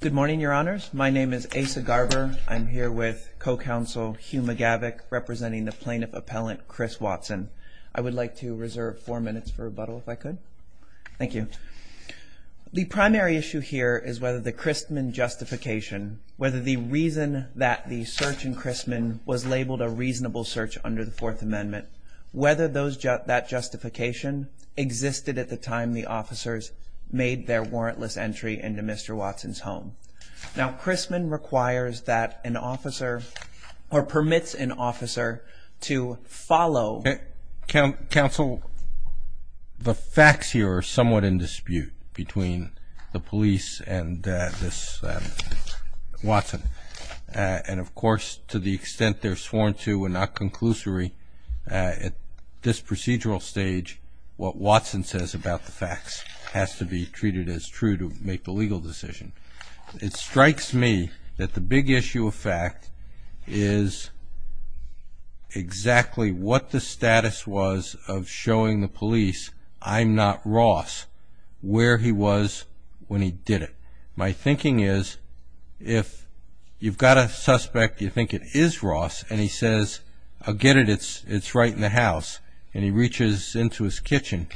Good morning, your honors. My name is Asa Garber. I'm here with co-counsel Huma Gavick representing the plaintiff appellant Chris Watson I would like to reserve four minutes for rebuttal if I could. Thank you The primary issue here is whether the Christman Justification whether the reason that the search in Christman was labeled a reasonable search under the Fourth Amendment whether those just that justification Existed at the time the officers made their warrantless entry into mr. Watson's home now Christman requires that an officer or permits an officer to follow counsel the facts here are somewhat in dispute between the police and this Watson and of course to the extent they're sworn to and not conclusory At this procedural stage what Watson says about the facts has to be treated as true to make the legal decision It strikes me that the big issue of fact is Exactly what the status was of showing the police. I'm not Ross Where he was when he did it. My thinking is if You've got a suspect you think it is Ross and he says I'll get it It's it's right in the house and he reaches into his kitchen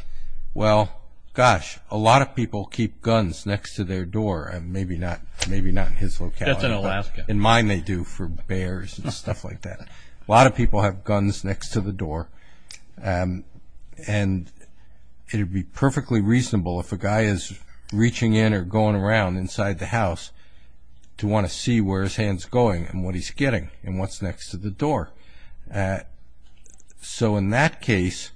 Well, gosh, a lot of people keep guns next to their door and maybe not maybe not in his locality That's an Alaska in mine. They do for bears and stuff like that. A lot of people have guns next to the door and It'd be perfectly reasonable if a guy is reaching in or going around inside the house To want to see where his hands going and what he's getting and what's next to the door So in that case,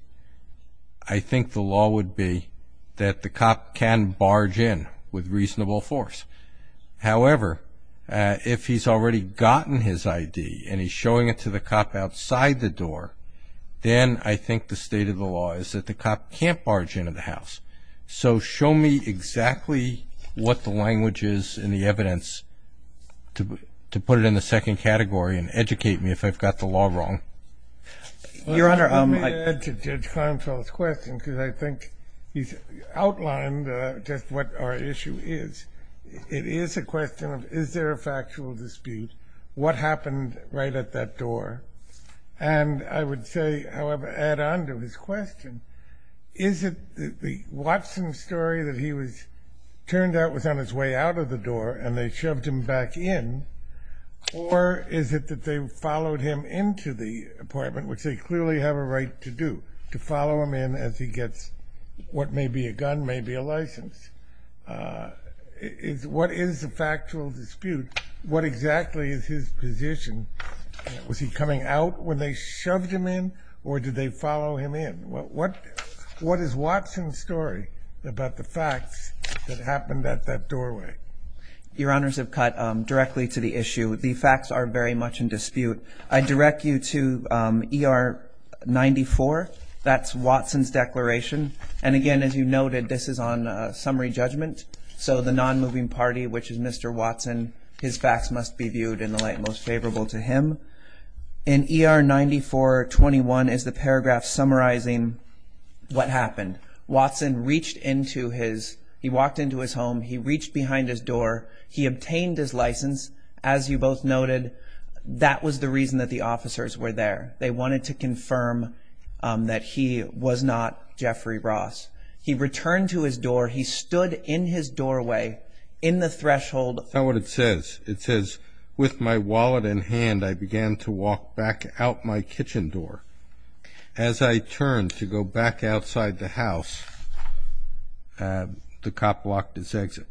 I Think the law would be that the cop can barge in with reasonable force however If he's already gotten his ID and he's showing it to the cop outside the door Then I think the state of the law is that the cop can't barge into the house So show me exactly What the language is in the evidence? To put it in the second category and educate me if I've got the law wrong Your honor. I'm like Question because I think he's outlined just what our issue is it is a question of is there a factual dispute what happened right at that door and I would say however add on to his question Is it the Watson story that he was turned out was on his way out of the door and they shoved him back in Or is it that they followed him into the apartment? Which they clearly have a right to do to follow him in as he gets what may be a gun may be a license Is what is the factual dispute what exactly is his position? Was he coming out when they shoved him in or did they follow him in what what what is Watson story? About the facts that happened at that doorway Your honors have cut directly to the issue. The facts are very much in dispute. I direct you to Er94 that's Watson's declaration. And again, as you noted this is on summary judgment. So the non-moving party, which is mr Watson, his facts must be viewed in the light most favorable to him in Er 9421 is the paragraph summarizing What happened Watson reached into his he walked into his home. He reached behind his door He obtained his license as you both noted. That was the reason that the officers were there. They wanted to confirm That he was not Jeffrey Ross. He returned to his door He stood in his doorway in the threshold. That's not what it says. It says with my wallet in hand I began to walk back out my kitchen door as I turned to go back outside the house The cop blocked his exit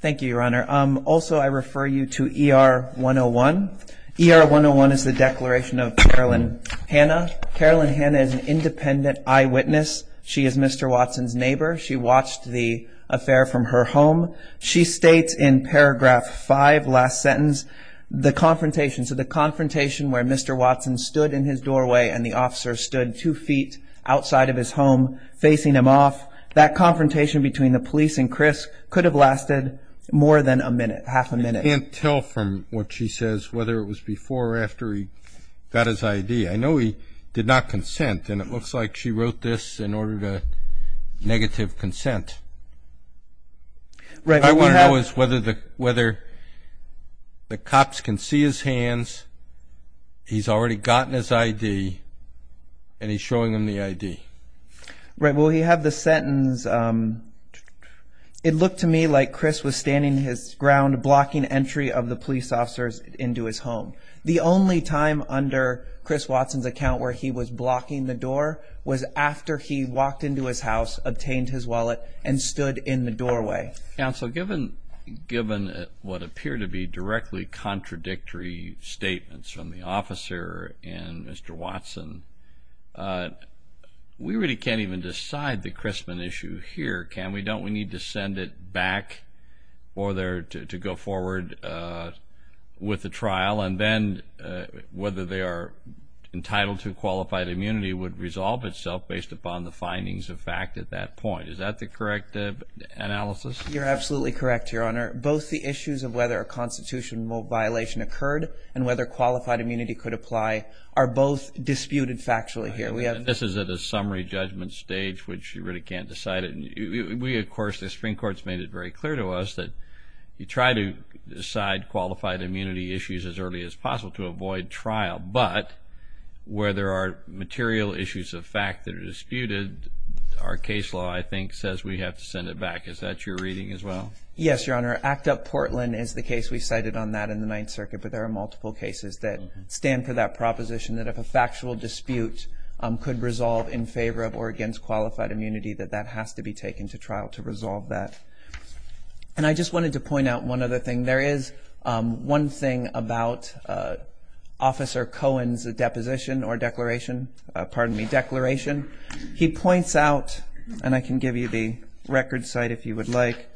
Thank You your honor. Um, also I refer you to er 101 Er 101 is the declaration of Carolyn Hannah Carolyn Hannah is an independent eyewitness. She is mr Watson's neighbor. She watched the affair from her home. She states in paragraph 5 last sentence the Confrontation. So the confrontation where mr Watson stood in his doorway and the officer stood two feet outside of his home Facing him off that confrontation between the police and Chris could have lasted more than a minute half a minute And tell from what she says whether it was before or after he got his ID I know he did not consent and it looks like she wrote this in order to negative consent Right, I want to know is whether the whether The cops can see his hands He's already gotten his ID and he's showing him the ID Right. Well, you have the sentence It looked to me like Chris was standing his ground blocking entry of the police officers into his home The only time under Chris Watson's account where he was blocking the door was after he walked into his house Obtained his wallet and stood in the doorway Counsel given given what appeared to be directly contradictory Statements from the officer and mr. Watson We really can't even decide the Christman issue here can we don't we need to send it back or there to go forward With the trial and then whether they are Entitled to qualified immunity would resolve itself based upon the findings of fact at that point. Is that the correct? Analysis, you're absolutely correct Your honor both the issues of whether a constitutional violation occurred and whether qualified immunity could apply are both Disputed factually here. We have this is at a summary judgment stage, which you really can't decide it We of course the Supreme Court's made it very clear to us that you try to decide qualified immunity issues as early as possible to avoid trial, but Where there are material issues of fact that are disputed our case law I think says we have to send it back. Is that your reading as well? Yes, your honor act up Portland is the case we cited on that in the Ninth Circuit But there are multiple cases that stand for that proposition that if a factual dispute Could resolve in favor of or against qualified immunity that that has to be taken to trial to resolve that And I just wanted to point out one other thing. There is one thing about Officer Cohen's a deposition or declaration pardon me declaration He points out and I can give you the record site if you would like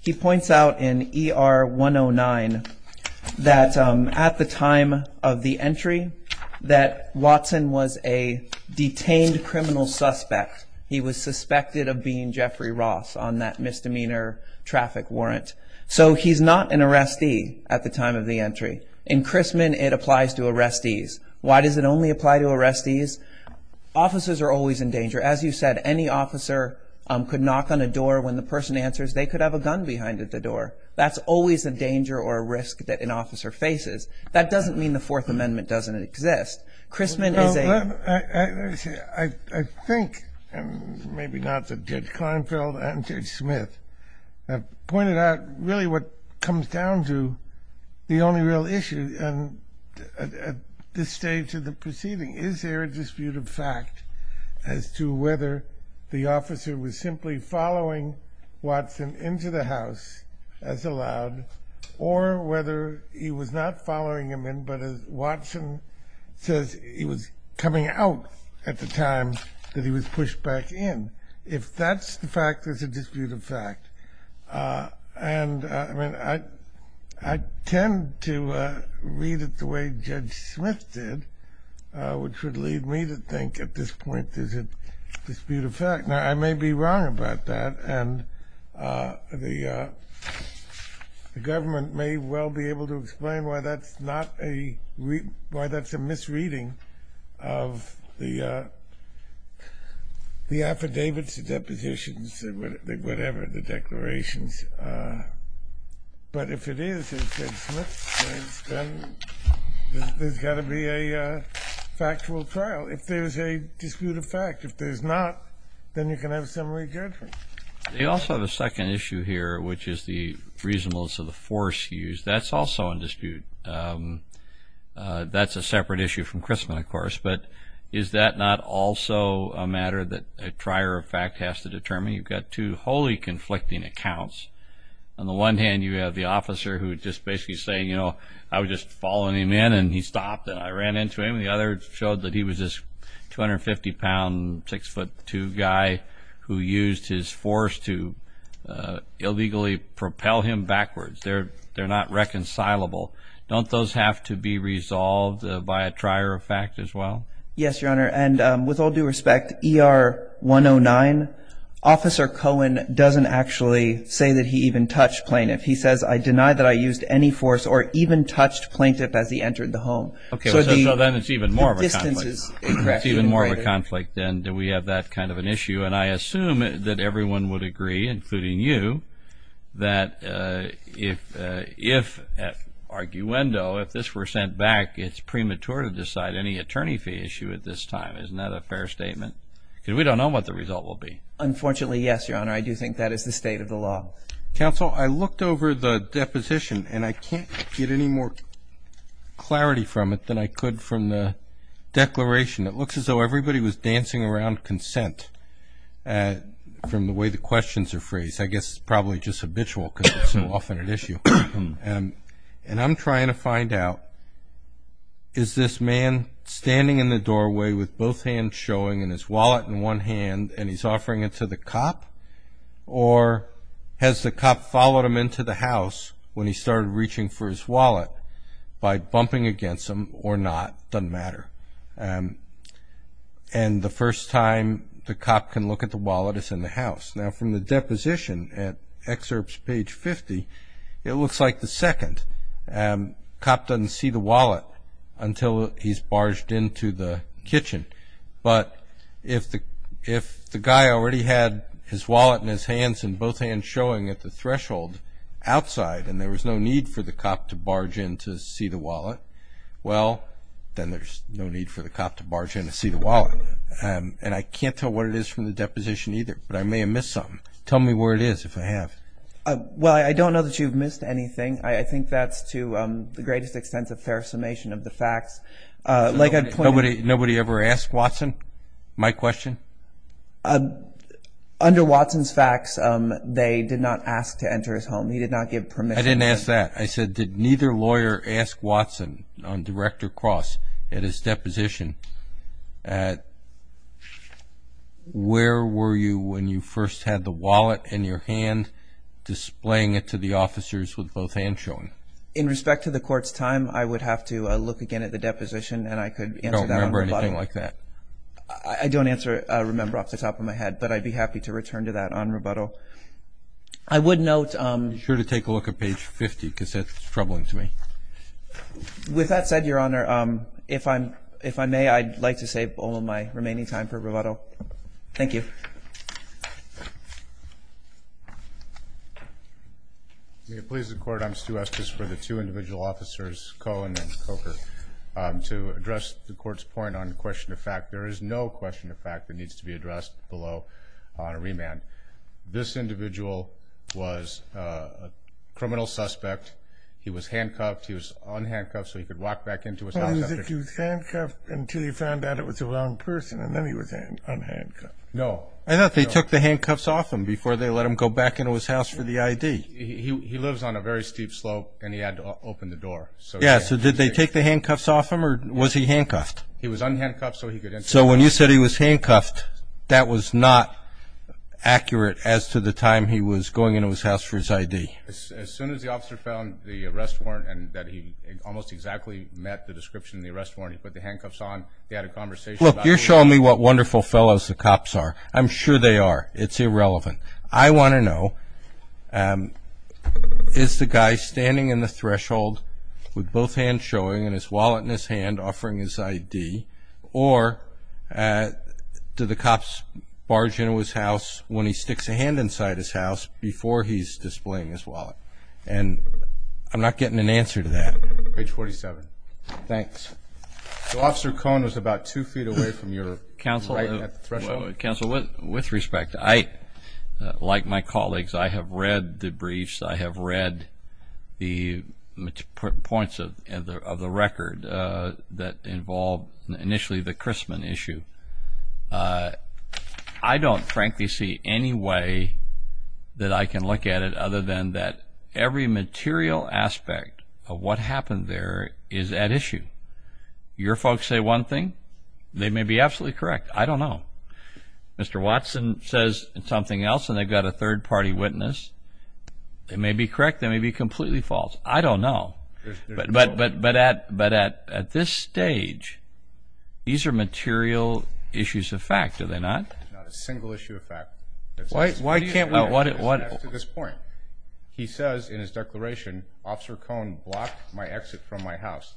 He points out in er 109 That at the time of the entry that Watson was a Detained criminal suspect. He was suspected of being Jeffrey Ross on that misdemeanor Traffic warrant, so he's not an arrestee at the time of the entry in Chrisman. It applies to arrestees Why does it only apply to arrestees? Officers are always in danger as you said any officer could knock on a door when the person answers They could have a gun behind at the door. That's always a danger or a risk that an officer faces That doesn't mean the Fourth Amendment doesn't exist Chrisman is a I Think and maybe not the judge Klinefeld and judge Smith pointed out really what comes down to the only real issue and This stage of the proceeding is there a dispute of fact as to whether the officer was simply following Watson into the house as allowed or whether he was not following him in but as Watson Says he was coming out at the time that he was pushed back in if that's the fact. There's a dispute of fact and I Tend to Read it the way judge Smith did Which would lead me to think at this point. There's a Dispute-of-fact now, I may be wrong about that and the Government may well be able to explain why that's not a why that's a misreading of the The affidavits the depositions and whatever the declarations But if it is There's got to be a If there's a dispute of fact if there's not then you can have some They also have a second issue here, which is the reasonableness of the force used that's also in dispute That's a separate issue from Chrisman, of course But is that not also a matter that a trier of fact has to determine you've got two wholly conflicting accounts On the one hand you have the officer who just basically say, you know I was just following him in and he stopped and I ran into him the other showed that he was just 250 pound six-foot-two guy who used his force to Illegally propel him backwards. They're they're not reconcilable Don't those have to be resolved by a trier of fact as well. Yes, your honor and with all due respect er 109 Officer Cohen doesn't actually say that he even touched plaintiff He says I deny that I used any force or even touched plaintiff as he entered the home Okay, so then it's even more of this is even more of a conflict Then do we have that kind of an issue and I assume that everyone would agree including you that if if Arguendo if this were sent back it's premature to decide any attorney fee issue at this time Because we don't know what the result will be Unfortunately, yes, your honor. I do think that is the state of the law council I looked over the deposition and I can't get any more clarity from it than I could from the Declaration that looks as though everybody was dancing around consent From the way the questions are phrased. I guess it's probably just habitual because it's so often an issue And I'm trying to find out Is this man standing in the doorway with both hands showing in his wallet in one hand and he's offering it to the cop or Has the cop followed him into the house when he started reaching for his wallet by bumping against him or not doesn't matter and The first time the cop can look at the wallet is in the house now from the deposition at excerpts page 50 It looks like the second Cop doesn't see the wallet until he's barged into the kitchen But if the if the guy already had his wallet in his hands and both hands showing at the threshold Outside and there was no need for the cop to barge in to see the wallet Well, then there's no need for the cop to barge in to see the wallet And I can't tell what it is from the deposition either, but I may have missed something Tell me where it is if I have Well, I don't know that you've missed anything I think that's to the greatest extent of fair summation of the facts Like I put nobody nobody ever asked Watson my question Under Watson's facts, um, they did not ask to enter his home. He did not give permit I didn't ask that I said did neither lawyer asked Watson on director cross at his deposition at Where were you when you first had the wallet in your hand Displaying it to the officers with both hands showing in respect to the court's time I would have to look again at the deposition and I could remember anything like that I don't answer remember off the top of my head, but I'd be happy to return to that on rebuttal. I Would note I'm sure to take a look at page 50 because that's troubling to me With that said your honor, um, if I'm if I may I'd like to save all of my remaining time for rebuttal. Thank you May it please the court. I'm Stu Estes for the two individual officers Cohen and Coker To address the court's point on question of fact, there is no question of fact that needs to be addressed below on a remand this individual was Criminal suspect he was handcuffed. He was unhandcuffed so he could walk back into his Handcuff until he found out it was a wrong person and then he was in unhandcuffed No, I thought they took the handcuffs off him before they let him go back into his house for the ID He lives on a very steep slope and he had to open the door So yeah, so did they take the handcuffs off him or was he handcuffed? He was unhandcuffed so he could so when you said he was handcuffed. That was not accurate as to the time he was going into his house for his ID as soon as the officer found the arrest warrant and that He almost exactly met the description in the arrest warrant. He put the handcuffs on they had a conversation You're showing me what wonderful fellows the cops are I'm sure they are it's irrelevant. I want to know Is the guy standing in the threshold with both hands showing and his wallet in his hand offering his ID or Do the cops barge into his house when he sticks a hand inside his house before he's displaying his wallet and I'm not getting an answer to that page 47. Thanks Officer Cohn was about two feet away from your counsel counsel with with respect I Like my colleagues. I have read the briefs. I have read the points of the record that involved initially the Chrisman issue I Don't frankly see any way That I can look at it other than that every material aspect of what happened there is at issue Your folks say one thing they may be absolutely correct. I don't know Mr. Watson says something else and they've got a third-party witness They may be correct. They may be completely false. I don't know but but but but at but at at this stage These are material issues of fact are they not a single issue of fact? Why why can't know what it was at this point? He says in his declaration officer Cohn blocked my exit from my house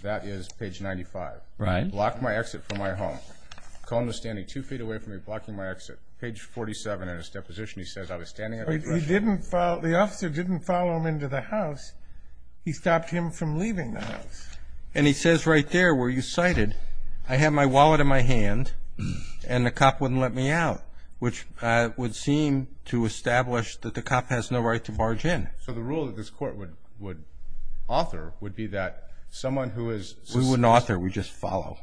That is page 95 right lock my exit from my home Cone was standing two feet away from me blocking my exit page 47 in his deposition He says I was standing he didn't follow the officer didn't follow him into the house He stopped him from leaving the house and he says right there were you sighted? I have my wallet in my hand And the cop wouldn't let me out which would seem to establish that the cop has no right to barge in So the rule that this court would would author would be that someone who is who an author we just follow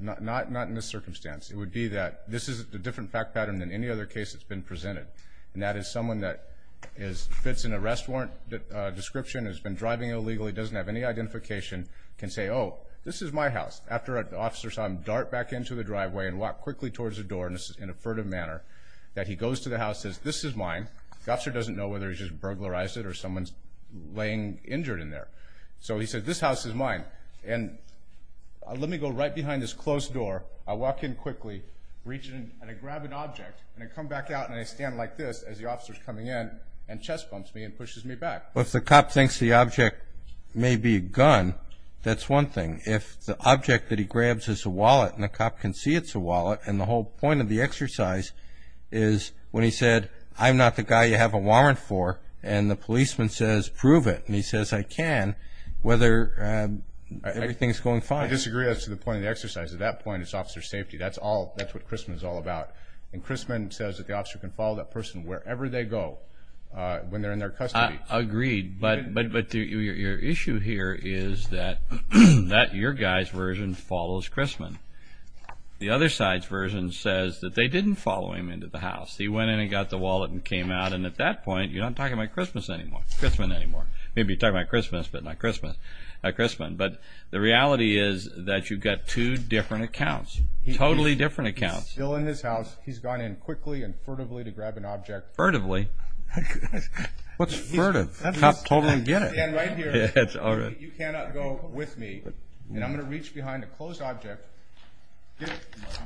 Not not in this circumstance. It would be that this is a different fact pattern than any other case It's been presented and that is someone that is fits an arrest warrant Description has been driving illegally doesn't have any identification can say oh This is my house after an officer saw him dart back into the driveway and walk quickly towards the door in a furtive manner That he goes to the house says this is mine The officer doesn't know whether he's just burglarized it or someone's laying injured in there. So he said this house is mine and Let me go right behind this closed door I walk in quickly reaching and I grab an object and I come back out and I stand like this as the officers coming in and Chest bumps me and pushes me back. Well, if the cop thinks the object may be a gun That's one thing if the object that he grabs is a wallet and the cop can see it's a wallet and the whole point of exercise is when he said I'm not the guy you have a warrant for and the policeman says prove it and he says I can whether Everything's going fine. I disagree. That's the point of the exercise at that point. It's officer safety That's all that's what Christman is all about and Christman says that the officer can follow that person wherever they go When they're in their custody agreed, but but but to your issue here is that that your guys version follows Christman? The other side's version says that they didn't follow him into the house He went in and got the wallet and came out and at that point, you know, I'm talking about Christmas anymore It's been anymore. Maybe you talk about Christmas, but not Christmas a Christman But the reality is that you've got two different accounts. He's totally different accounts still in this house He's gone in quickly and furtively to grab an object furtively What's furtive? With me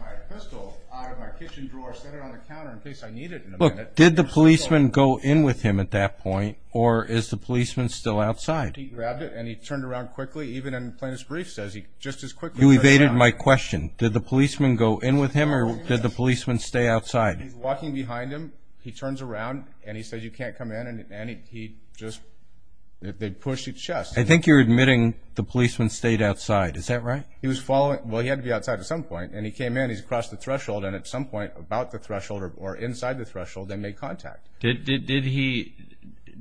My pistol out of my kitchen drawer set it on the counter in case I need it But did the policeman go in with him at that point or is the policeman still outside? He grabbed it and he turned around quickly even in plainest briefs as he just as quick You evaded my question. Did the policeman go in with him or did the policeman stay outside walking behind him? he turns around and he said you can't come in and he just They pushed his chest. I think you're admitting the policeman stayed outside. Is that right? He was following Well, he had to be outside at some point and he came in He's across the threshold and at some point about the threshold or inside the threshold. They made contact. Did he?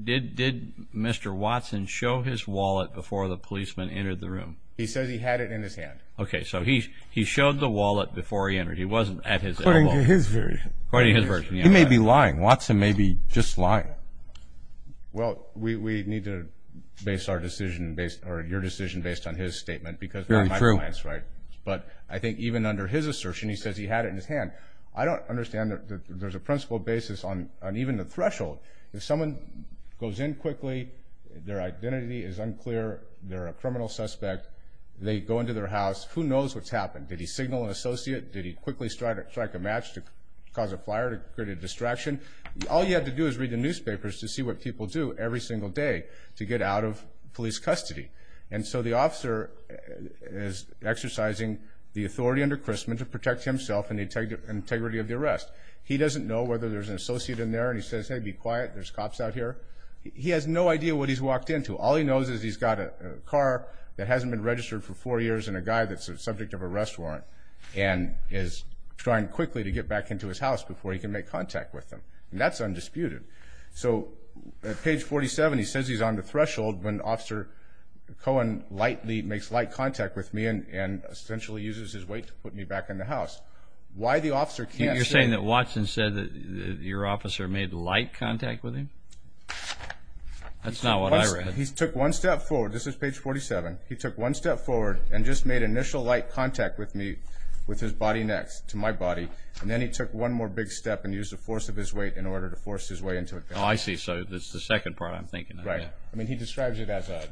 Did did mr. Watson show his wallet before the policeman entered the room? He says he had it in his hand Okay, so he he showed the wallet before he entered he wasn't at his Party his version. You may be lying Watson may be just lying Well, we need to base our decision based or your decision based on his statement because very true. That's right But I think even under his assertion, he says he had it in his hand I don't understand that there's a principle basis on and even the threshold if someone goes in quickly Their identity is unclear. They're a criminal suspect. They go into their house who knows what's happened Did he signal an associate? Did he quickly start it strike a match to cause a fire to create a distraction? All you have to do is read the newspapers to see what people do every single day to get out of police custody and so the officer Is exercising the authority under Chrisman to protect himself and the integrity of the arrest He doesn't know whether there's an associate in there and he says hey be quiet. There's cops out here He has no idea what he's walked into all he knows is he's got a car that hasn't been registered for four years and a guy that's a subject of arrest warrant and Is trying quickly to get back into his house before he can make contact with them. That's undisputed So at page 47, he says he's on the threshold when officer Cohen lightly makes light contact with me and essentially uses his weight to put me back in the house Why the officer can't you're saying that Watson said that your officer made light contact with him? That's not what I read. He took one step forward. This is page 47 He took one step forward and just made initial light contact with me With his body next to my body and then he took one more big step and used the force of his weight in order to Force his way into it. Oh, I see. So that's the second part. I'm thinking right? I mean he describes it as a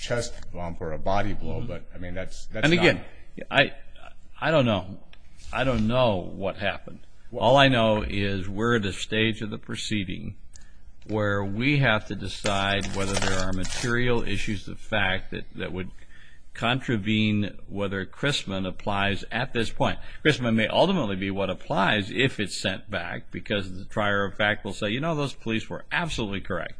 Chest bump or a body blow, but I mean that's and again, I I don't know I don't know what happened. All I know is we're at a stage of the proceeding where we have to decide whether there are material issues the fact that that would contravene whether Chrisman applies at this point Chrisman may ultimately be what applies if it's sent back because the trier of fact will say, you know Those police were absolutely correct.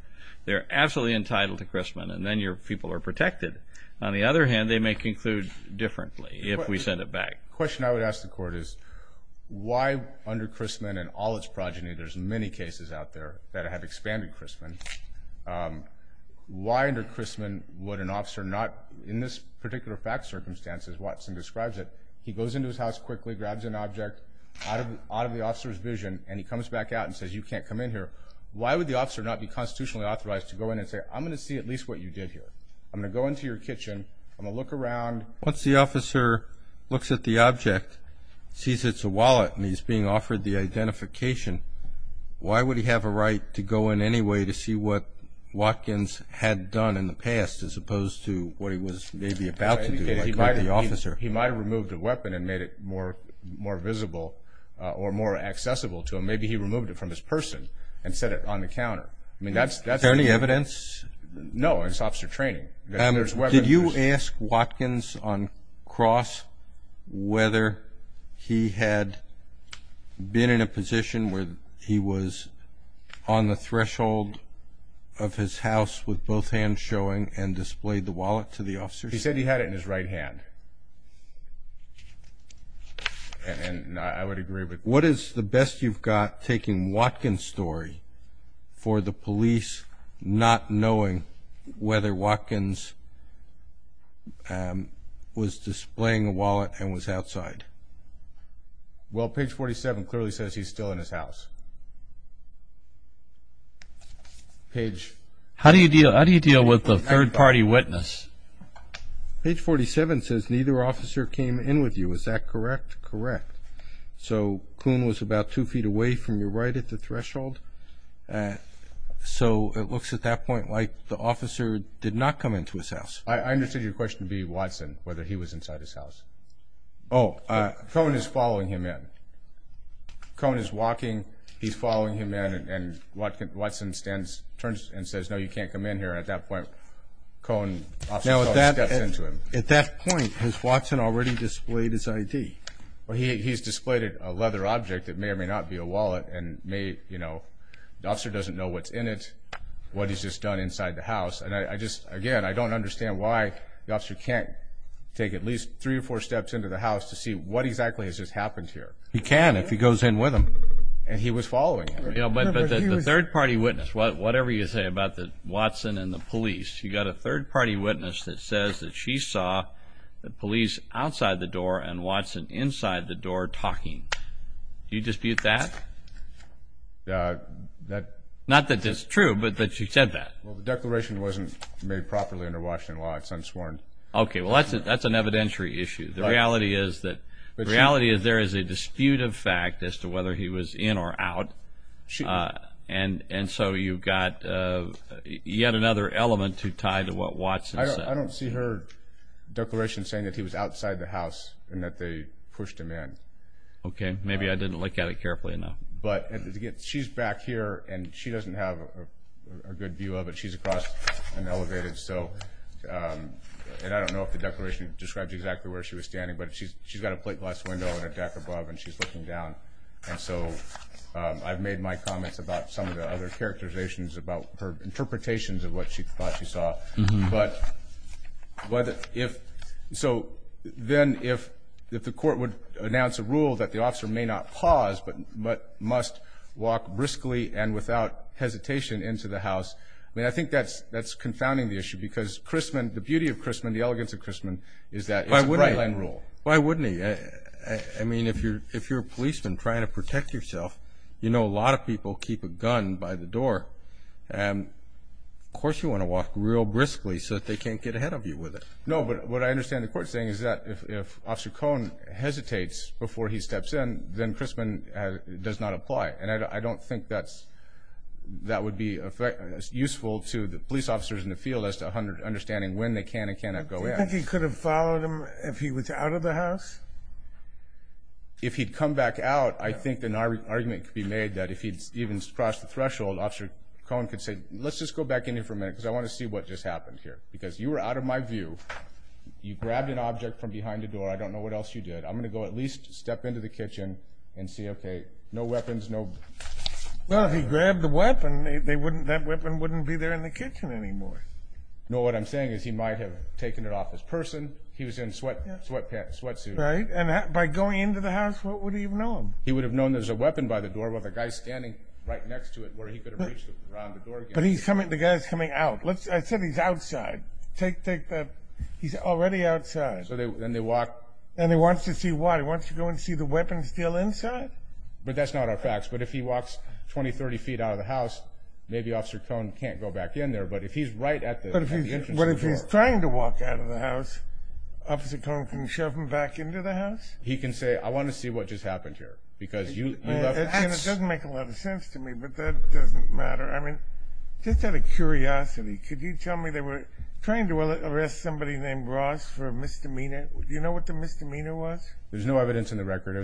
They're absolutely entitled to Chrisman and then your people are protected on the other hand They may conclude differently if we send it back question. I would ask the court is Why under Chrisman and all its progeny? There's many cases out there that have expanded Chrisman Why under Chrisman would an officer not in this particular fact circumstances Watson describes it He goes into his house quickly grabs an object Out of the officer's vision and he comes back out and says you can't come in here Why would the officer not be constitutionally authorized to go in and say I'm gonna see at least what you did here I'm gonna go into your kitchen. I'm gonna look around once the officer looks at the object Sees, it's a wallet and he's being offered the identification Why would he have a right to go in any way to see what? Watkins had done in the past as opposed to what he was maybe about the officer He might have removed a weapon and made it more more visible or more accessible to him Maybe he removed it from his person and set it on the counter. I mean, that's that's any evidence No, it's officer training. There's what did you ask Watkins on cross? whether he had been in a position where he was on the threshold of His house with both hands showing and displayed the wallet to the officer. He said he had it in his right hand And What is the best you've got taking Watkins story for the police not knowing whether Watkins Was displaying a wallet and was outside well page 47 clearly says he's still in his house Page how do you deal? How do you deal with the third party witness? Page 47 says neither officer came in with you. Is that correct? Correct? So Coon was about two feet away from your right at the threshold So it looks at that point like the officer did not come into his house I understood your question to be Watson whether he was inside his house. Oh Cone is following him in Cone is walking. He's following him in and what Watson stands turns and says no you can't come in here at that point Cone At that point has Watson already displayed his ID Well, he's displayed a leather object that may or may not be a wallet and may you know, the officer doesn't know what's in it What he's just done inside the house And I just again I don't understand why the officer can't Take at least three or four steps into the house to see what exactly has just happened here He can if he goes in with him and he was following, you know, but the third party witness Whatever you say about the Watson and the police you got a third party witness that says that she saw The police outside the door and Watson inside the door talking You dispute that That not that that's true, but that she said that well the declaration wasn't made properly under Washington law. It's unsworn Okay Well, that's it. That's an evidentiary issue The reality is that the reality is there is a dispute of fact as to whether he was in or out And and so you've got Yet another element to tie to what Watson I don't see her Declaration saying that he was outside the house and that they pushed him in Okay, maybe I didn't look at it carefully enough, but to get she's back here and she doesn't have a good view of it She's across an elevated. So And I don't know if the declaration describes exactly where she was standing But she's she's got a plate glass window and a deck above and she's looking down and so I've made my comments about some of the other characterizations about her interpretations of what she thought she saw but whether if so then if if the court would announce a rule that the officer may not pause but but must Walk briskly and without hesitation into the house I mean, I think that's that's confounding the issue because Chrisman the beauty of Chrisman the elegance of Chrisman is that I wouldn't enroll Why wouldn't he? I mean if you're if you're a policeman trying to protect yourself, you know a lot of people keep a gun by the door and Of course, you want to walk real briskly so that they can't get ahead of you with it No But what I understand the court saying is that if officer Cohn Hesitates before he steps in then Chrisman does not apply and I don't think that's That would be a fact as useful to the police officers in the field as 200 understanding when they can and cannot go He could have followed him if he was out of the house If he'd come back out I think an argument could be made that if he'd even crossed the threshold officer Cohen could say let's just go back in here for a minute because I want to see what just happened here because you were out Of my view You grabbed an object from behind the door. I don't know what else you did I'm gonna go at least step into the kitchen and see okay, no weapons. No Well, he grabbed the weapon. They wouldn't that weapon wouldn't be there in the kitchen anymore No, what I'm saying is he might have taken it off his person He was in sweat sweat pants what suit right and that by going into the house, what would he even know him? He would have known there's a weapon by the door while the guy standing right next to it where he could have reached But he's coming the guys coming out. Let's I said he's outside take take that. He's already outside So they then they walk and he wants to see why he wants to go and see the weapons deal inside But that's not our facts. But if he walks 20 30 feet out of the house, maybe officer Cohn can't go back in there But if he's right at the but if he's what if he's trying to walk out of the house Officer Cohn can shove him back into the house. He can say I want to see what just happened here because you Make a lot of sense to me, but that doesn't matter. I mean just had a curiosity Could you tell me they were trying to arrest somebody named Ross for a misdemeanor? Do you know what the misdemeanor was? There's no evidence in the record.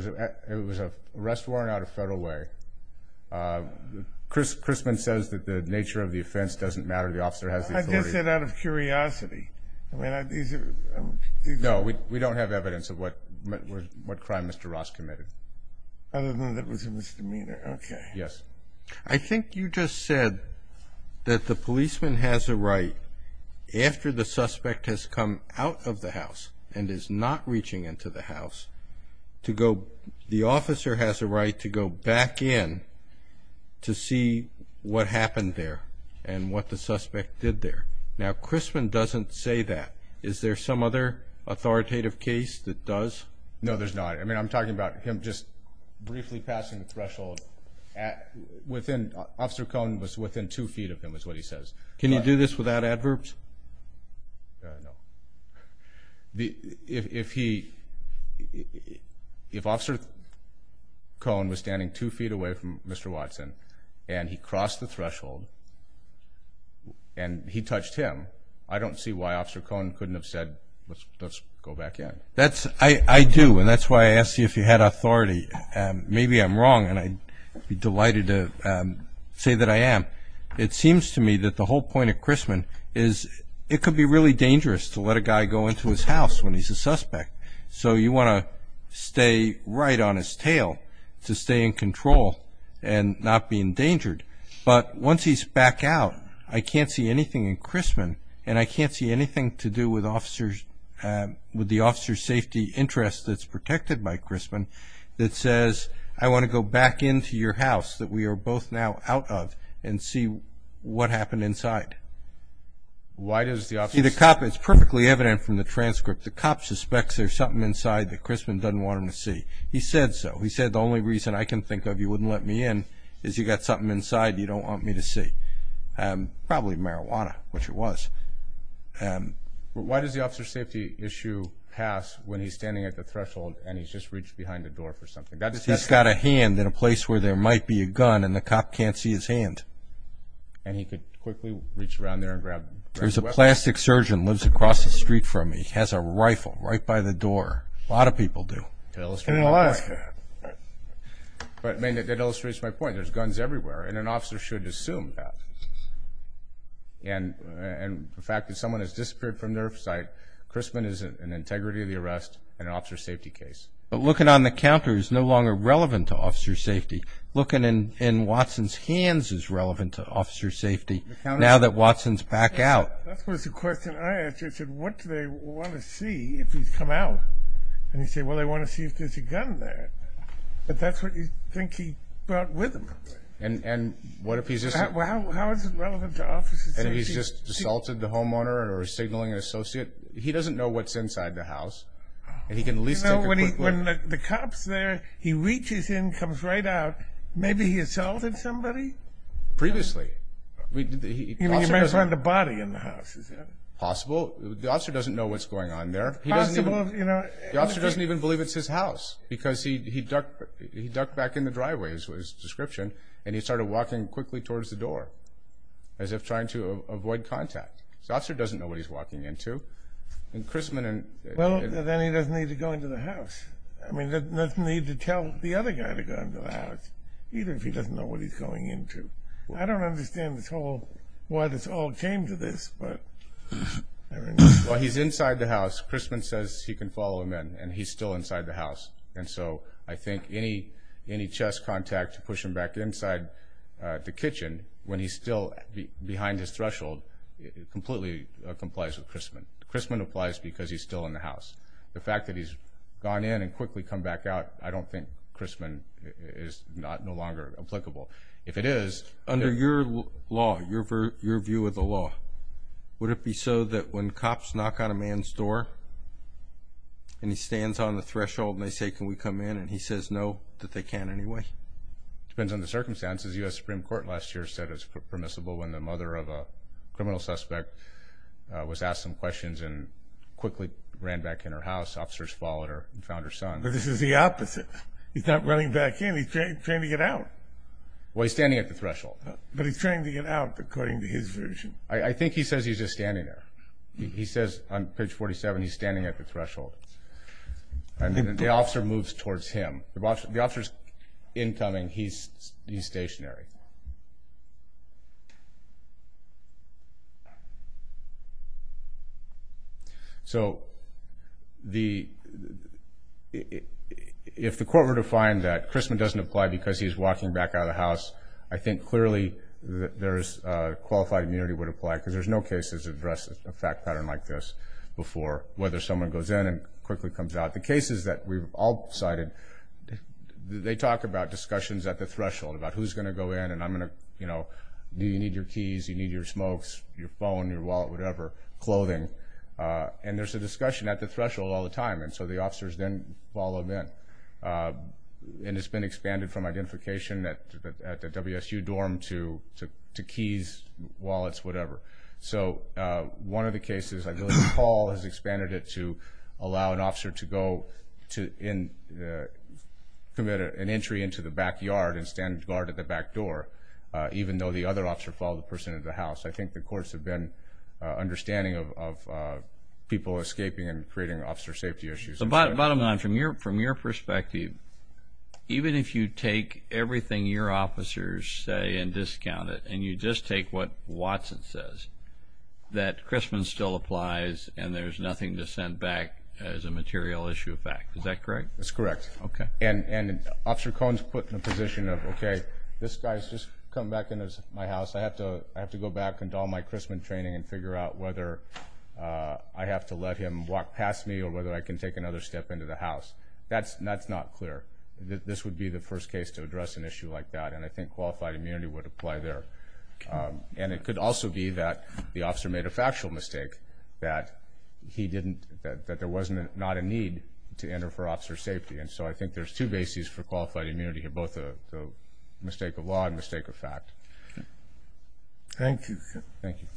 It was a arrest warrant out of Federal Way Chris Chrisman says that the nature of the offense doesn't matter. The officer has I guess it out of curiosity. I mean I Know we don't have evidence of what? What crime? Mr. Ross committed? Other than that was a misdemeanor. Okay. Yes, I think you just said That the policeman has a right After the suspect has come out of the house and is not reaching into the house To go the officer has a right to go back in To see what happened there and what the suspect did there now Chrisman doesn't say that is there some other? Authoritative case that does no, there's not. I mean, I'm talking about him just briefly passing the threshold at Within officer Cohn was within two feet of him is what he says. Can you do this without adverbs? The if he If officer Cohn was standing two feet away from mr. Watson, and he crossed the threshold and He touched him I don't see why officer Cohn couldn't have said let's go back in that's I I do and that's why I asked You if you had authority Maybe I'm wrong and I'd be delighted to Say that I am it seems to me that the whole point of Chrisman is It could be really dangerous to let a guy go into his house when he's a suspect So you want to stay right on his tail to stay in control and not be endangered But once he's back out, I can't see anything in Chrisman and I can't see anything to do with officers With the officer safety interest that's protected by Chrisman That says I want to go back into your house that we are both now out of and see what happened inside Why does the off see the cop it's perfectly evident from the transcript the cop suspects There's something inside that Chrisman doesn't want him to see he said so he said the only reason I can think of you wouldn't let Me in is you got something inside. You don't want me to see Probably marijuana, which it was Why does the officer safety issue pass when he's standing at the threshold and he's just reached behind the door for something That's he's got a hand in a place where there might be a gun and the cop can't see his hand And he could quickly reach around there and grab there's a plastic surgeon lives across the street from me He has a rifle right by the door. A lot of people do But I mean it illustrates my point there's guns everywhere and an officer should assume that And and the fact that someone has disappeared from their site Chrisman is an integrity of the arrest and an officer safety case Looking on the counter is no longer relevant to officer safety looking in in Watson's hands is relevant to officer safety Now that Watson's back out And you say well they want to see if there's a gun there, but that's what you think he brought with him and and And he's just assaulted the homeowner or signaling an associate he doesn't know what's inside the house He can at least know what he when the cops there he reaches in comes right out. Maybe he assaulted somebody previously The body in the house Possible the officer doesn't know what's going on there He doesn't even you know the officer doesn't even believe it's his house because he ducked He ducked back in the driveway as was description, and he started walking quickly towards the door As if trying to avoid contact the officer doesn't know what he's walking into And Chrisman and well then he doesn't need to go into the house I mean that doesn't need to tell the other guy to go into the house Even if he doesn't know what he's going into. I don't understand this whole why this all came to this but Well, he's inside the house Chrisman says he can follow him in and he's still inside the house And so I think any any chess contact to push him back inside The kitchen when he's still behind his threshold Completely complies with Chrisman Chrisman applies because he's still in the house the fact that he's gone in and quickly come back out I don't think Chrisman is not no longer applicable if it is under your law your for your view of the law Would it be so that when cops knock on a man's door? And he stands on the threshold and they say can we come in and he says no that they can't anyway depends on the circumstances US Supreme Court last year said it's permissible when the mother of a criminal suspect Was asked some questions and quickly ran back in her house officers followed her and found her son But this is the opposite. He's not running back in he's trying to get out Well, he's standing at the threshold, but he's trying to get out according to his version. I think he says he's just standing there He says on page 47. He's standing at the threshold And then the officer moves towards him the boss the officers in coming. He's he's stationary So The If the court were to find that Chrisman doesn't apply because he's walking back out of the house, I think clearly that there's Qualified immunity would apply because there's no cases address a fact pattern like this Before whether someone goes in and quickly comes out the cases that we've all cited They talk about discussions at the threshold about who's going to go in and I'm gonna you know, do you need your keys? You need your smokes your phone your wallet, whatever clothing and there's a discussion at the threshold all the time And so the officers then follow them in And it's been expanded from identification that at the WSU dorm to to to keys wallets, whatever so one of the cases I believe Paul has expanded it to allow an officer to go to in Committed an entry into the backyard and stand guard at the back door Even though the other officer followed the person into the house. I think the courts have been understanding of People escaping and creating officer safety issues about bottom line from your from your perspective Even if you take everything your officers say and discount it and you just take what Watson says That Chrisman still applies and there's nothing to send back as a material issue of fact. Is that correct? That's correct. Okay, and and officer cones put in a position of okay. This guy's just come back in as my house I have to I have to go back and all my Chrisman training and figure out whether I have to let him walk past me or whether I can take another step into the house That's nuts not clear that this would be the first case to address an issue like that and I think qualified immunity would apply there and it could also be that the officer made a factual mistake that He didn't that there wasn't not a need to enter for officer safety and so I think there's two bases for qualified immunity here both a mistake of law and mistake of fact Thank you. Thank you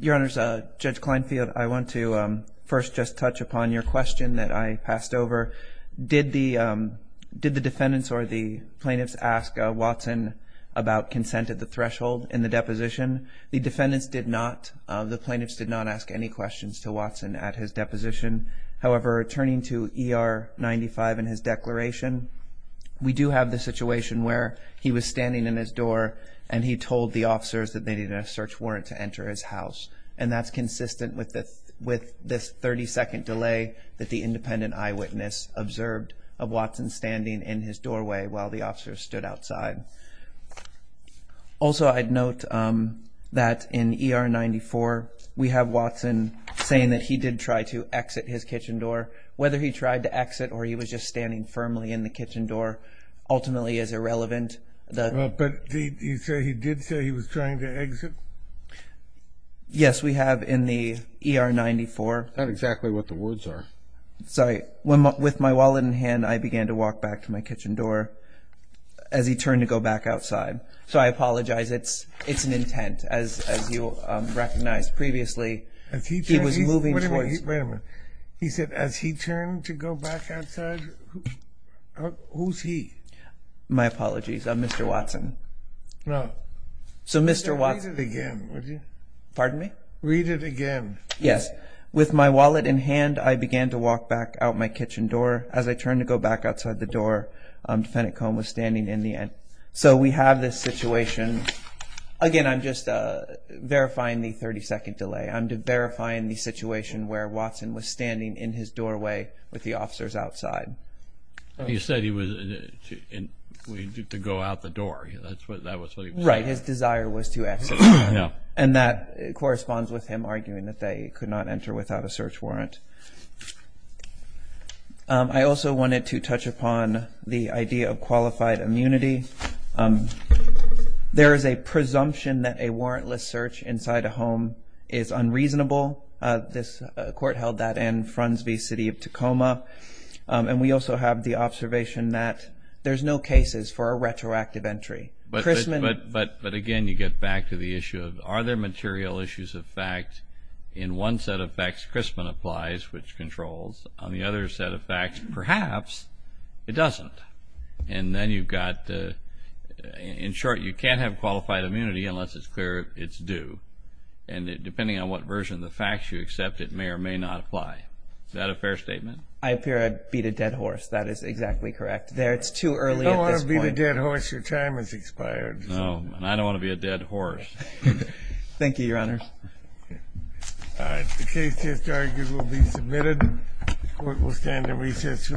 Your Honor's a judge Clinefield. I want to first just touch upon your question that I passed over did the Did the defendants or the plaintiffs ask Watson about consent at the threshold in the deposition? The defendants did not the plaintiffs did not ask any questions to Watson at his deposition However, returning to er 95 in his declaration We do have the situation where he was standing in his door and he told the officers that they need a search warrant to enter His house and that's consistent with this with this 30-second delay that the independent eyewitness Observed of Watson standing in his doorway while the officers stood outside Also, I'd note That in er 94 we have Watson Saying that he did try to exit his kitchen door whether he tried to exit or he was just standing firmly in the kitchen door Ultimately is irrelevant, but you say he did say he was trying to exit Yes, we have in the er 94 not exactly what the words are Sorry one with my wallet in hand. I began to walk back to my kitchen door as He turned to go back outside. So I apologize. It's it's an intent as you Recognized previously as he was moving. Wait a minute. He said as he turned to go back outside Who's he? My apologies. I'm mr. Watson No, so, mr. Watson again Pardon me read it again. Yes with my wallet in hand I began to walk back out my kitchen door as I turned to go back outside the door Defendant Cohen was standing in the end. So we have this situation again, I'm just Verifying the 30-second delay. I'm to verify in the situation where Watson was standing in his doorway with the officers outside He said he was in We did to go out the door. That's what that was right His desire was to exit you know, and that corresponds with him arguing that they could not enter without a search warrant I also wanted to touch upon the idea of qualified immunity There is a presumption that a warrantless search inside a home is Unreasonable this court held that and fronds be City of Tacoma And we also have the observation that there's no cases for a retroactive entry But Christman, but but but again you get back to the issue of are there material issues of fact in one set of facts? Christman applies which controls on the other set of facts perhaps It doesn't and then you've got In short, you can't have qualified immunity unless it's clear It's due and it depending on what version of the facts you accept it may or may not apply that a fair statement I appear I'd beat a dead horse. That is exactly correct there. It's too early I want to be the dead horse your time is expired. No, and I don't want to be a dead horse Thank you, Your Honor The case just argued will be submitted Court will stand in recess to the day